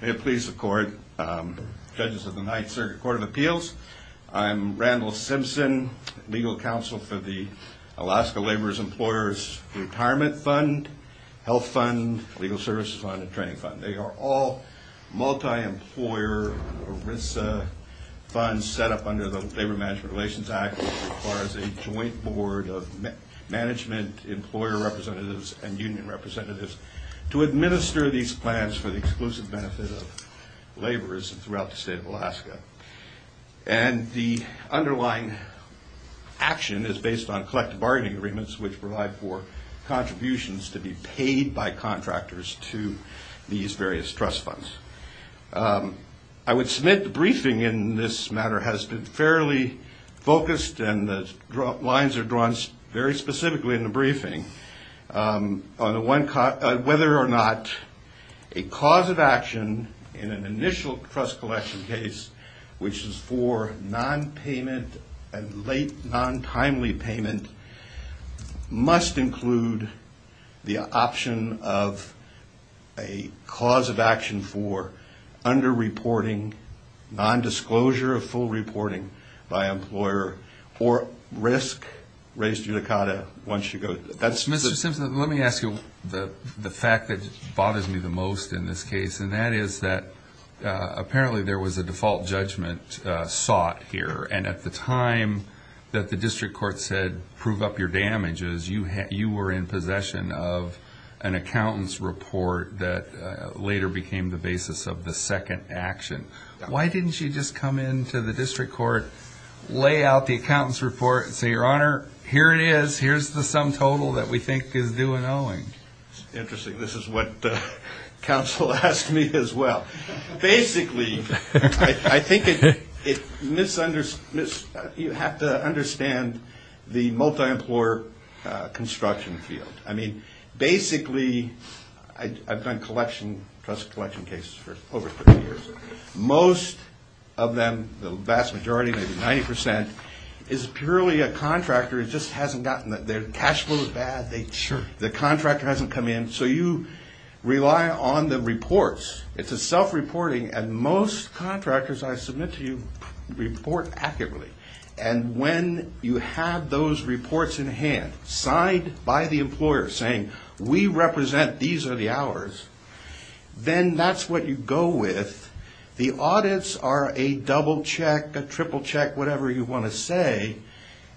May it please the court, judges of the Ninth Circuit Court of Appeals, I'm Randall Simpson, legal counsel for the Alaska Laborers Employers Retirement Fund, Health Fund, Legal Services Fund, and Training Fund. They are all multi-employer ERISA funds set up under the Labor Management Relations Act as far as a joint board of management, employer representatives, and union representatives to administer these plans for the exclusive benefit of laborers throughout the state of Alaska. And the underlying action is based on collective bargaining agreements which provide for contributions to be paid by contractors to these various trust funds. I would submit the briefing in this matter has been fairly focused and the lines are drawn very specifically in the briefing on whether or not a cause of action in an initial trust collection case, which is for non-payment and late, non-timely payment, must include the option of a cause of action for under-reporting, non-disclosure of full reporting by employer, or risk-raised judicata once you go to... That's... Mr. Simpson, let me ask you the fact that bothers me the most in this case, and that is that apparently there was a default judgment sought here, and at the time that the district court said, prove up your damages, you were in possession of an accountant's report that later became the basis of the second action. Why didn't you just come into the district court, lay out the accountant's report, and say, your honor, here it is, here's the sum total that we think is due and owing? It's interesting. This is what counsel asked me as well. Basically, I think you have to understand the multi-employer construction field. I mean, basically, I've done collection, trust collection cases for over 30 years. Most of them, the vast majority, maybe 90%, is purely a contractor who just hasn't gotten that. Their cash flow is bad. Sure. The contractor hasn't come in, so you rely on the reports. It's a self-reporting, and most contractors I submit to you report accurately, and when you have those reports in hand, signed by the employer saying, we represent, these are the hours, then that's what you go with. The audits are a double-check, a triple-check, whatever you want to say,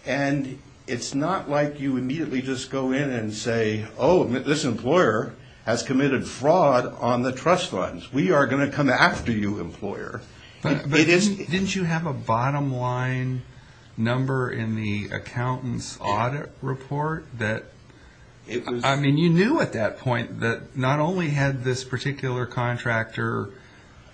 and it's not like you immediately just go in and say, oh, this employer has committed fraud on the trust funds. We are going to come after you, employer. But didn't you have a bottom-line number in the accountant's audit report that, I mean, you knew at that point that not only had this particular contractor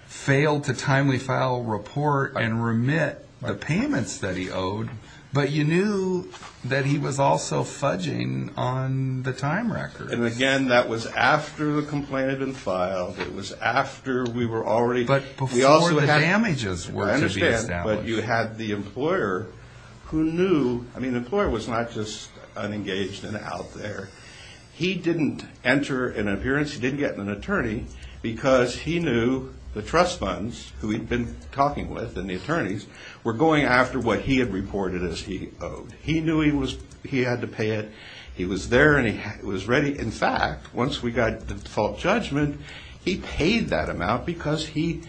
failed to timely file a report and remit the payments that he owed, but you knew that he was also fudging on the time record. And again, that was after the complaint had been filed. It was after we were already... But before the damages were to be established. I understand, but you had the employer who knew, I mean, the employer was not just unengaged and out there. He didn't enter an appearance, he didn't get an attorney, because he knew the trust funds who he'd been talking with, and the attorneys, were going after what he had reported as he owed. He knew he had to pay it. He was there, and he was ready. In fact, once we got the default judgment, he paid that amount because he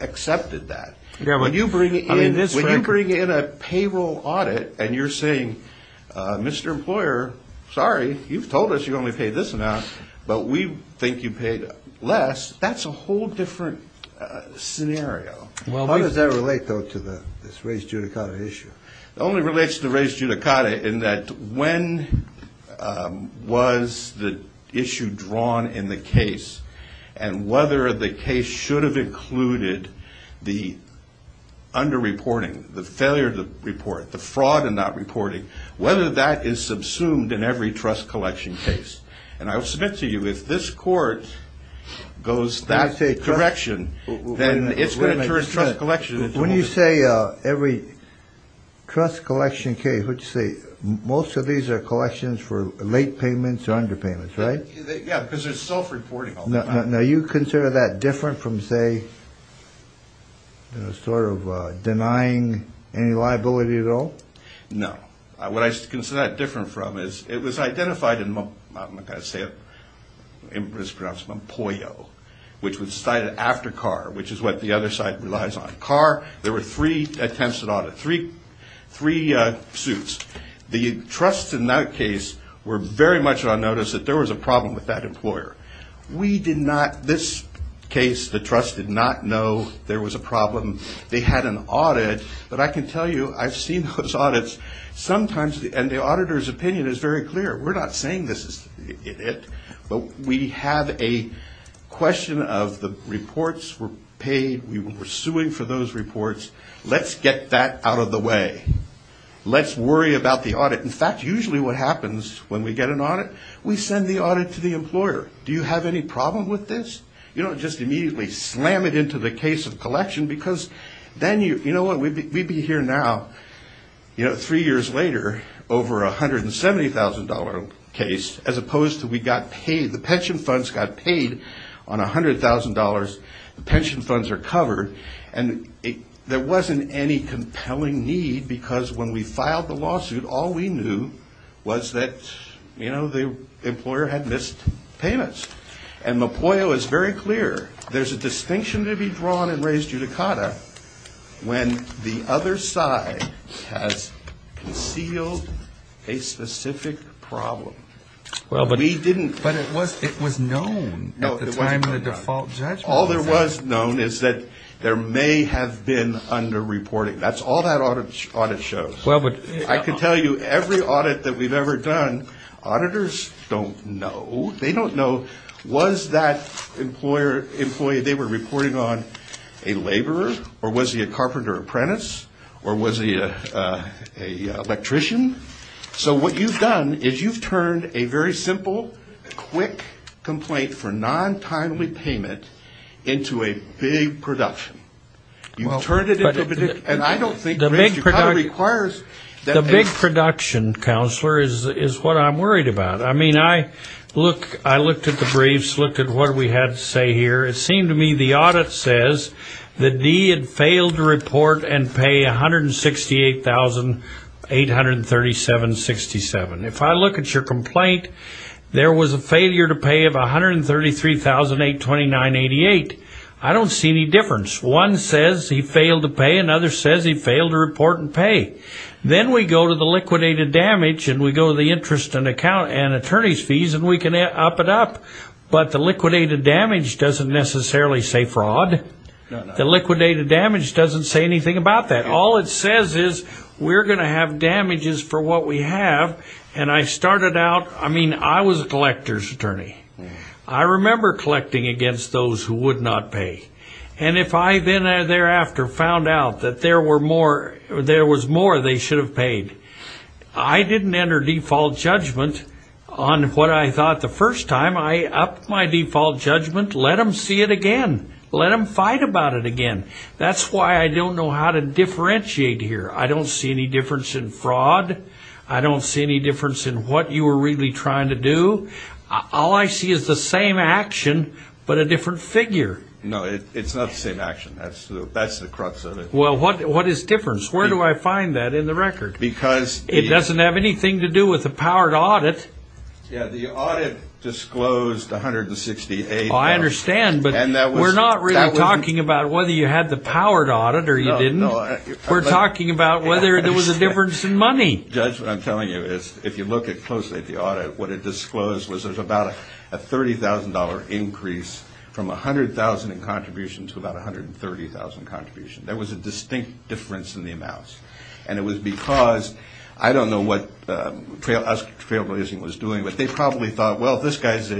accepted that. When you bring in a payroll audit, and you're saying, Mr. Employer, sorry, you've told us you only paid this amount, but we think you paid less, that's a whole different scenario. How does that relate, though, to this raised judicata issue? It only relates to the raised judicata in that when was the issue drawn in the case, and whether the case should have included the under-reporting, the failure to report, the fraud in that reporting, whether that is subsumed in every trust collection case. And I will submit to you, if this court goes that direction, then it's going to turn trust collection into... When you say every trust collection case, what do you say, most of these are collections for late payments or underpayments, right? Yeah, because there's self-reporting on them. Now, you consider that different from, say, sort of denying any liability at all? No. What I consider that different from is it was identified in, I'm not going to say it, it was pronounced Mompoyo, which was cited after Carr, which is what the other side relies on. Carr, there were three attempts at audit, three suits. The trusts in that case were very much on notice that there was a problem with that employer. We did not, this case, the trust did not know there was a problem. They had an audit, but I can tell you, I've seen those audits sometimes, and the auditor's opinion is very clear, we're not saying this is it, but we have a question of the reports were paid, we were suing for those reports, let's get that out of the way, let's worry about the audit. In fact, usually what happens when we get an audit, we send the audit to the employer. Do you have any problem with this? You don't just immediately slam it into the case of collection because then you, you know what, we'd be here now, you know, three years later, over a $170,000 case, as opposed to we got paid, the pension funds got paid on $100,000, the pension funds are covered, and there wasn't any compelling need because when we filed the lawsuit, all we knew was that, you know, the employer had missed payments. And Mopoyo is very clear, there's a distinction to be drawn in Reyes-Judicata when the other side has concealed a specific problem. Well, but we didn't, but it was, it was known at the time of the default judgment. All there was known is that there may have been under-reporting. That's all that audit shows. Well, but I could tell you every audit that we've ever done, auditors don't know. They don't know was that employer, employee, they were reporting on a laborer, or was he a carpenter apprentice, or was he a electrician? So what you've done is you've turned a very simple, quick complaint for non-timely payment into a big production. You've turned it into a big, and I don't think Reyes-Judicata requires that. The big production, counselor, is what I'm worried about. I mean, I look, I looked at the briefs, looked at what we had to say here. It seemed to me the audit says that D had failed to report and pay $168,837.67. If I look at your complaint, there was a failure to pay of $133,829.88. I don't see any difference. One says he failed to pay, another says he failed to report and pay. Then we go to the liquidated damage, and we go to the interest and account and attorney's fees, and we can up it up. But the liquidated damage doesn't necessarily say fraud. The liquidated damage doesn't say anything about that. All it says is we're going to have damages for what we have, and I started out, I mean, I was a collector's attorney. I remember collecting against those who would not pay, and if I then thereafter found out that there were more, there was more, they should have paid. I didn't enter default judgment on what I thought the first time. I upped my default judgment. Let them see it again. Let them fight about it again. That's why I don't know how to differentiate here. I don't see any difference in fraud. I don't see any difference in what you were really trying to do. All I see is the same action, but a different figure. No, it's not the same action. That's the crux of it. Well, what is difference? Where do I find that in the record? It doesn't have anything to do with the powered audit. The audit disclosed $168,000. I understand, but we're not really talking about whether you had the powered audit or you didn't. We're talking about whether there was a difference in money. Judge, what I'm telling you is if you look closely at the audit, what it disclosed was there's about a $30,000 increase from $100,000 in contribution to about $130,000 contribution. There was a distinct difference in the amounts. It was because I don't know what us trailblazing was doing, but they probably thought, well, this guy's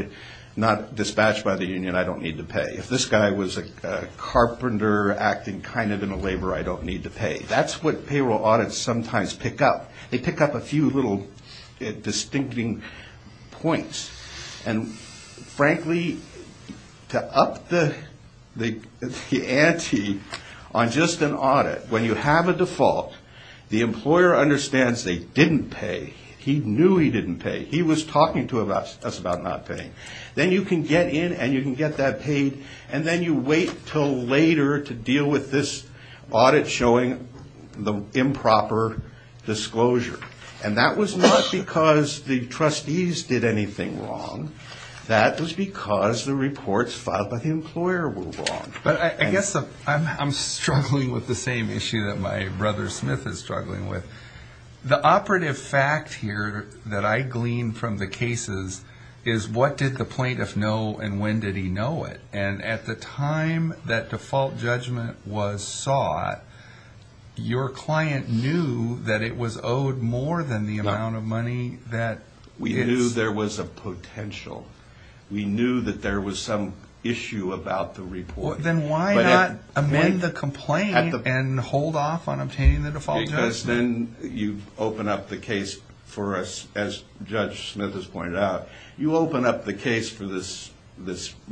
not dispatched by the union. I don't need to pay. If this guy was a carpenter acting kind of in a labor, I don't need to pay. That's what payroll audits sometimes pick up. They pick up a few little distincting points. Frankly, to up the ante on just an audit, when you have a default, the employer understands they didn't pay. He knew he didn't pay. He was talking to us about not paying. Then you can get in and you can get that paid, and then you wait until later to deal with this audit showing the improper disclosure. That was not because the trustees did anything wrong. That was because the reports filed by the employer were wrong. I guess I'm struggling with the same issue that my brother Smith is struggling with. The operative fact here that I gleaned from the cases is what did the plaintiff know and when did he know it? At the time that default judgment was sought, your client knew that it was owed more than the amount of money that is. We knew there was a potential. We knew that there was some issue about the report. Then why not amend the complaint and hold off on obtaining the default judgment? Because then you open up the case for us, as Judge Smith has pointed out, you open up the case for this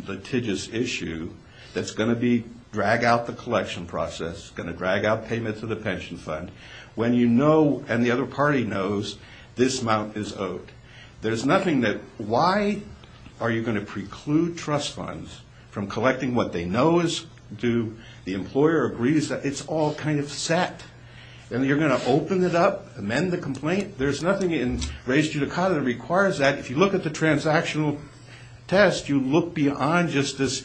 litigious issue that's going to drag out the collection process, going to drag out payments of the pension fund, when you know and the other party knows this amount is owed. There's nothing that, why are you going to preclude trust funds from collecting what they know is due? The employer agrees that it's all kind of set, and you're going to open it up, amend the complaint? There's nothing in res judicata that requires that. If you look at the transactional test, you look beyond just this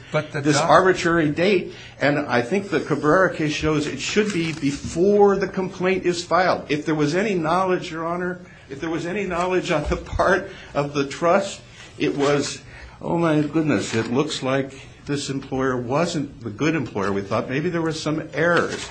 arbitrary date, and I think the Cabrera case shows it should be before the complaint is filed. If there was any knowledge, your honor, if there was any knowledge on the part of the trust, it was, oh my goodness, it looks like this employer wasn't the good employer. We thought maybe there were some errors.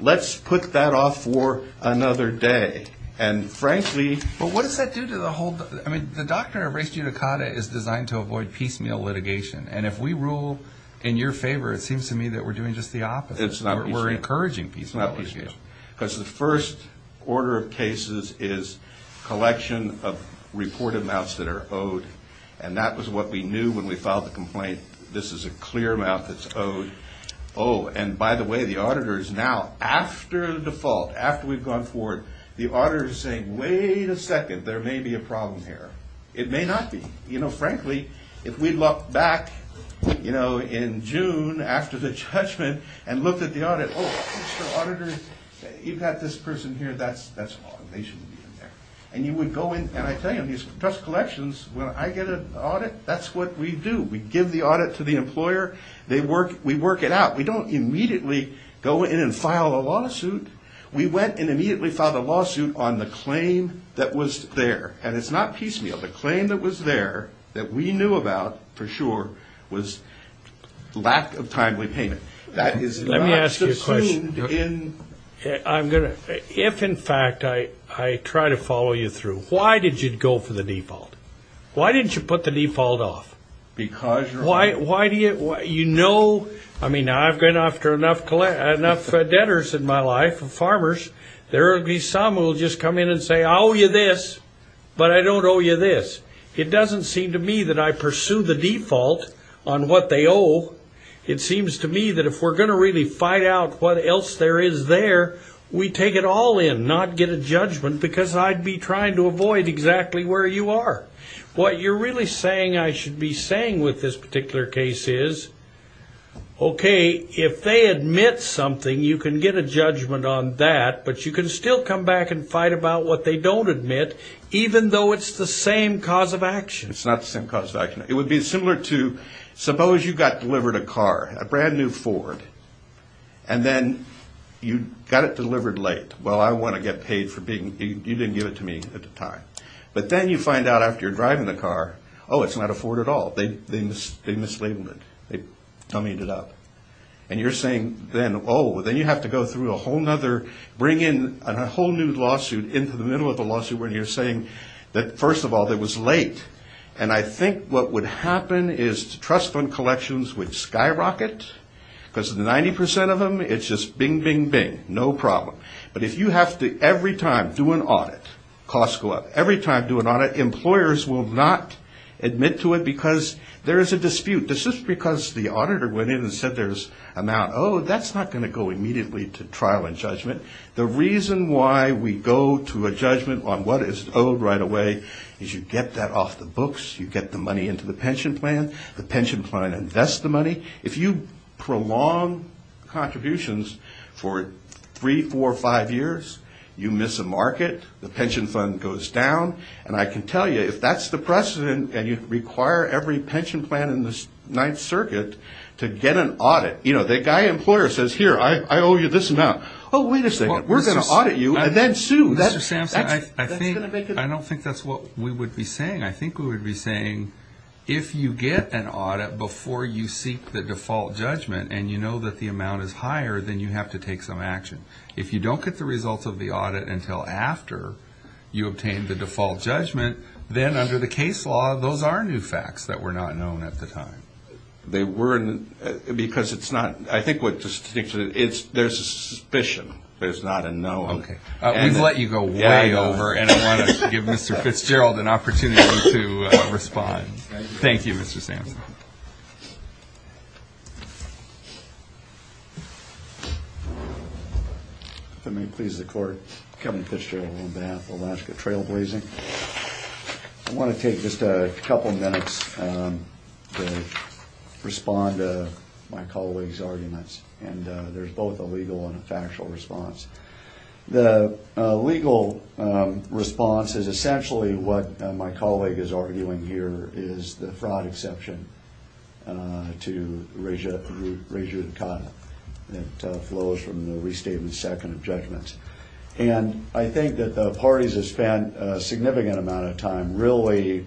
Let's put that off for another day. And frankly... But what does that do to the whole, I mean, the doctrine of res judicata is designed to avoid piecemeal litigation, and if we rule in your favor, it seems to me that we're doing just the opposite. It's not piecemeal. We're encouraging piecemeal litigation. It's not piecemeal. Because the first order of cases is collection of reported amounts that are owed, and that was what we knew when we filed the complaint. This is a clear amount that's owed. Oh, and by the way, the auditor is now, after the default, after we've gone forward, the auditor is saying, wait a second, there may be a problem here. It may not be. You know, frankly, if we looked back, you know, in June, after the judgment, and looked at the audit, oh, Mr. Auditor, you've got this person here, that's wrong, they shouldn't be in there. And you would go in, and I tell you, trust collections, when I get an audit, that's what we do. We give the audit to the employer. We work it out. We don't immediately go in and file a lawsuit. We went and immediately filed a lawsuit on the claim that was there. And it's not piecemeal. The claim that was there, that we knew about, for sure, was lack of timely payment. That is not subsumed in... Let me ask you a question. If in fact I try to follow you through, why did you go for the default? Why didn't you put the default off? Because you're... Why do you... You know... I mean, I've gone after enough debtors in my life, farmers. There will be some who will just come in and say, I owe you this, but I don't owe you this. It doesn't seem to me that I pursue the default on what they owe. It seems to me that if we're going to really fight out what else there is there, we take it all in, not get a judgment, because I'd be trying to avoid exactly where you are. What you're really saying I should be saying with this particular case is, okay, if they admit something, you can get a judgment on that, but you can still come back and fight about what they don't admit, even though it's the same cause of action. It's not the same cause of action. It would be similar to, suppose you got delivered a car, a brand new Ford, and then you got it delivered late. Well, I want to get paid for being... You didn't give it to me at the time. But then you find out after you're driving the car, oh, it's not a Ford at all. They mislabeled it. They dummied it up. And you're saying then, oh, then you have to go through a whole other, bring in a whole new lawsuit into the middle of the lawsuit where you're saying that, first of all, it was late. And I think what would happen is trust fund collections would skyrocket, because 90 percent of them, it's just bing, bing, bing, no problem. But if you have to, every time, do an audit, costs go up. Every time do an audit, employers will not admit to it because there is a dispute. This is because the auditor went in and said there's amount owed. That's not going to go immediately to trial and judgment. The reason why we go to a judgment on what is owed right away is you get that off the books. You get the money into the pension plan. The pension plan invests the money. If you prolong contributions for three, four, five years, you miss a market. The pension fund goes down. And I can tell you, if that's the precedent and you require every pension plan in the Ninth Circuit to get an audit, you know, the guy employer says, here, I owe you this amount. Oh, wait a second. We're going to audit you and then sue. Mr. Samson, I don't think that's what we would be saying. I think we would be saying, if you get an audit before you seek the default judgment and you know that the amount is higher, then you have to take some action. If you don't get the results of the audit until after you obtain the default judgment, then under the case law, those are new facts that were not known at the time. They weren't because it's not, I think what's distinctive is there's a suspicion. There's not a knowing. Okay. We've let you go way over and I want to give Mr. Fitzgerald an opportunity to respond. Thank you, Mr. Samson. If it may please the court, Kevin Fitzgerald on behalf of Alaska Trailblazing. I want to take just a couple of minutes to respond to my colleague's arguments. And there's both a legal and a factual response. The legal response is essentially what my colleague is arguing here is the fraud exception to rejudicata that flows from the restatement second of judgments. And I think that the parties have spent a significant amount of time really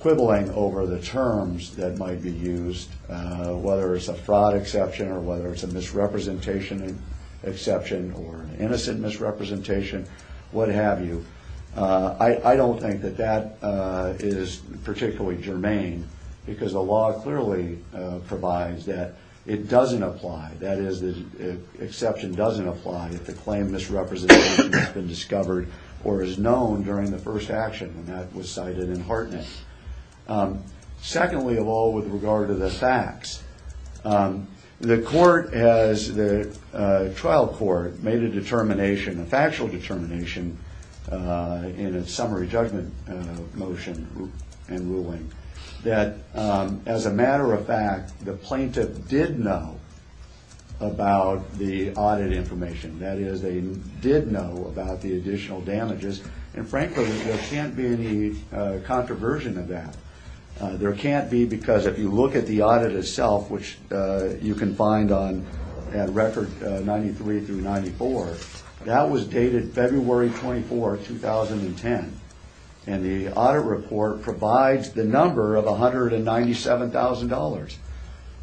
quibbling over the terms that might be used, whether it's a fraud exception or whether it's a misrepresentation exception or an innocent misrepresentation, what have you. I don't think that that is particularly germane because the law clearly provides that it doesn't apply. That is the exception doesn't apply if the claim misrepresentation has been discovered or is known during the first action and that was cited in Hartnett. Secondly, of all with regard to the facts, the court has the trial court made a determination, a factual determination in a summary judgment motion and ruling that as a matter of fact, the plaintiff did know about the audit information, that is they did know about the additional damages. And frankly, there can't be any controversy in that. There can't be because if you look at the audit itself, which you can find on record 93 through 94, that was dated February 24th, 2010 and the audit report provides the number of $197,000.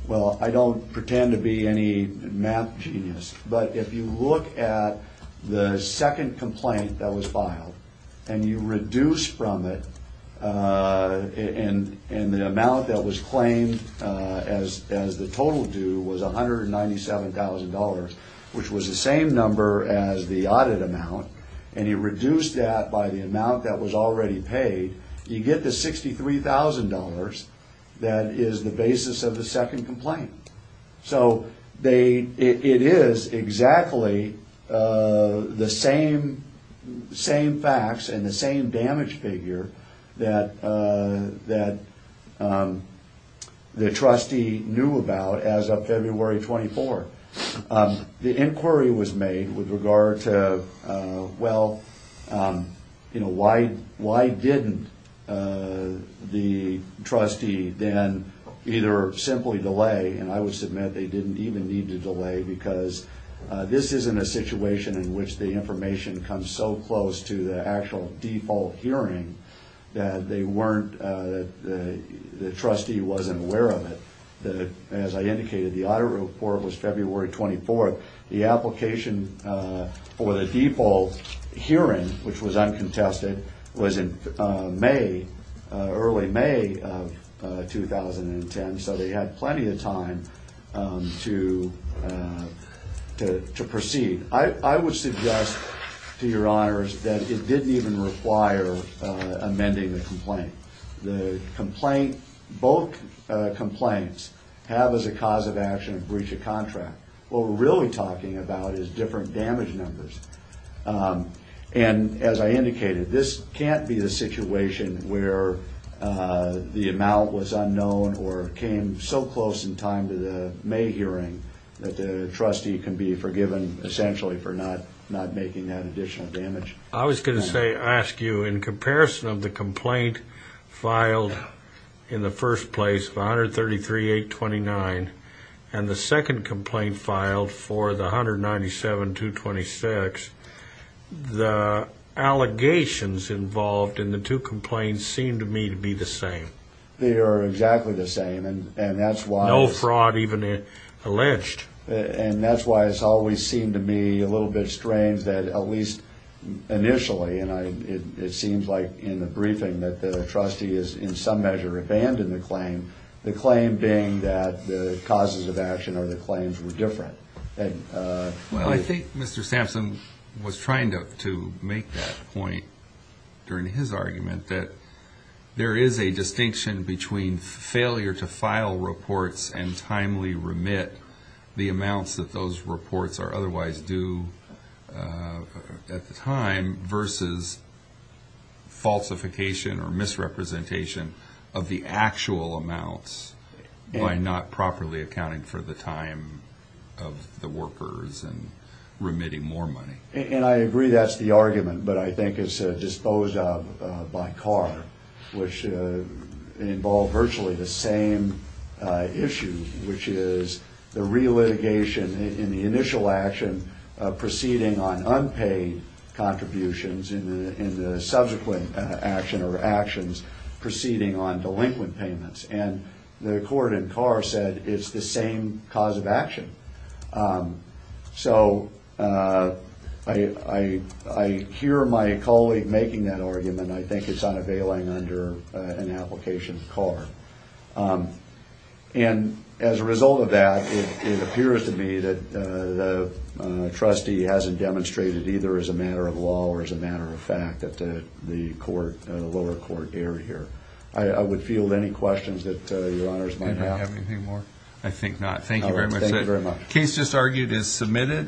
Well I don't pretend to be any math genius, but if you look at the second complaint that was filed and you reduce from it in the amount that was claimed as the total due was $197,000, which was the same number as the audit amount, and you reduce that by the amount that was already paid, you get the $63,000 that is the basis of the second complaint. So it is exactly the same facts and the same damage figure that the trustee knew about as of February 24th. The inquiry was made with regard to, well, why didn't the trustee then either simply delay, and I would submit they didn't even need to delay because this isn't a situation in which the information comes so close to the actual default hearing that the trustee wasn't aware of it. As I indicated, the audit report was February 24th. The application for the default hearing, which was uncontested, was in early May of 2010, so they had plenty of time to proceed. I would suggest, to your honors, that it didn't even require amending the complaint. Both complaints have as a cause of action a breach of contract. What we're really talking about is different damage numbers, and as I indicated, this can't be the situation where the amount was unknown or came so close in time to the May hearing that the trustee can be forgiven, essentially, for not making that additional damage. I was going to ask you, in comparison of the complaint filed in the first place of $133,829 and the second complaint filed for the $197,226, the allegations involved in the two complaints seem to me to be the same. They are exactly the same, and that's why... No fraud even alleged. And that's why it's always seemed to me a little bit strange that, at least initially, it seems like in the briefing that the trustee has, in some measure, abandoned the claim, the claim being that the causes of action or the claims were different. I think Mr. Sampson was trying to make that point during his argument that there is a distinction between failure to file reports and timely remit, the amounts that those reports are otherwise due at the time, versus falsification or misrepresentation of the actual amount by not properly accounting for the time of the workers and remitting more money. And I agree that's the argument, but I think it's disposed of by CAR, which involved virtually the same issue, which is the relitigation in the initial action proceeding on unpaid contributions in the subsequent action or actions proceeding on delinquent payments. And the court in CAR said it's the same cause of action. So I hear my colleague making that argument. I think it's unavailing under an application of CAR. And as a result of that, it appears to me that the trustee hasn't demonstrated either as a matter of law or as a matter of fact that the lower court erred here. I would field any questions that Your Honors might have. Do we have anything more? I think not. Thank you very much, sir. Thank you very much. The case just argued is submitted.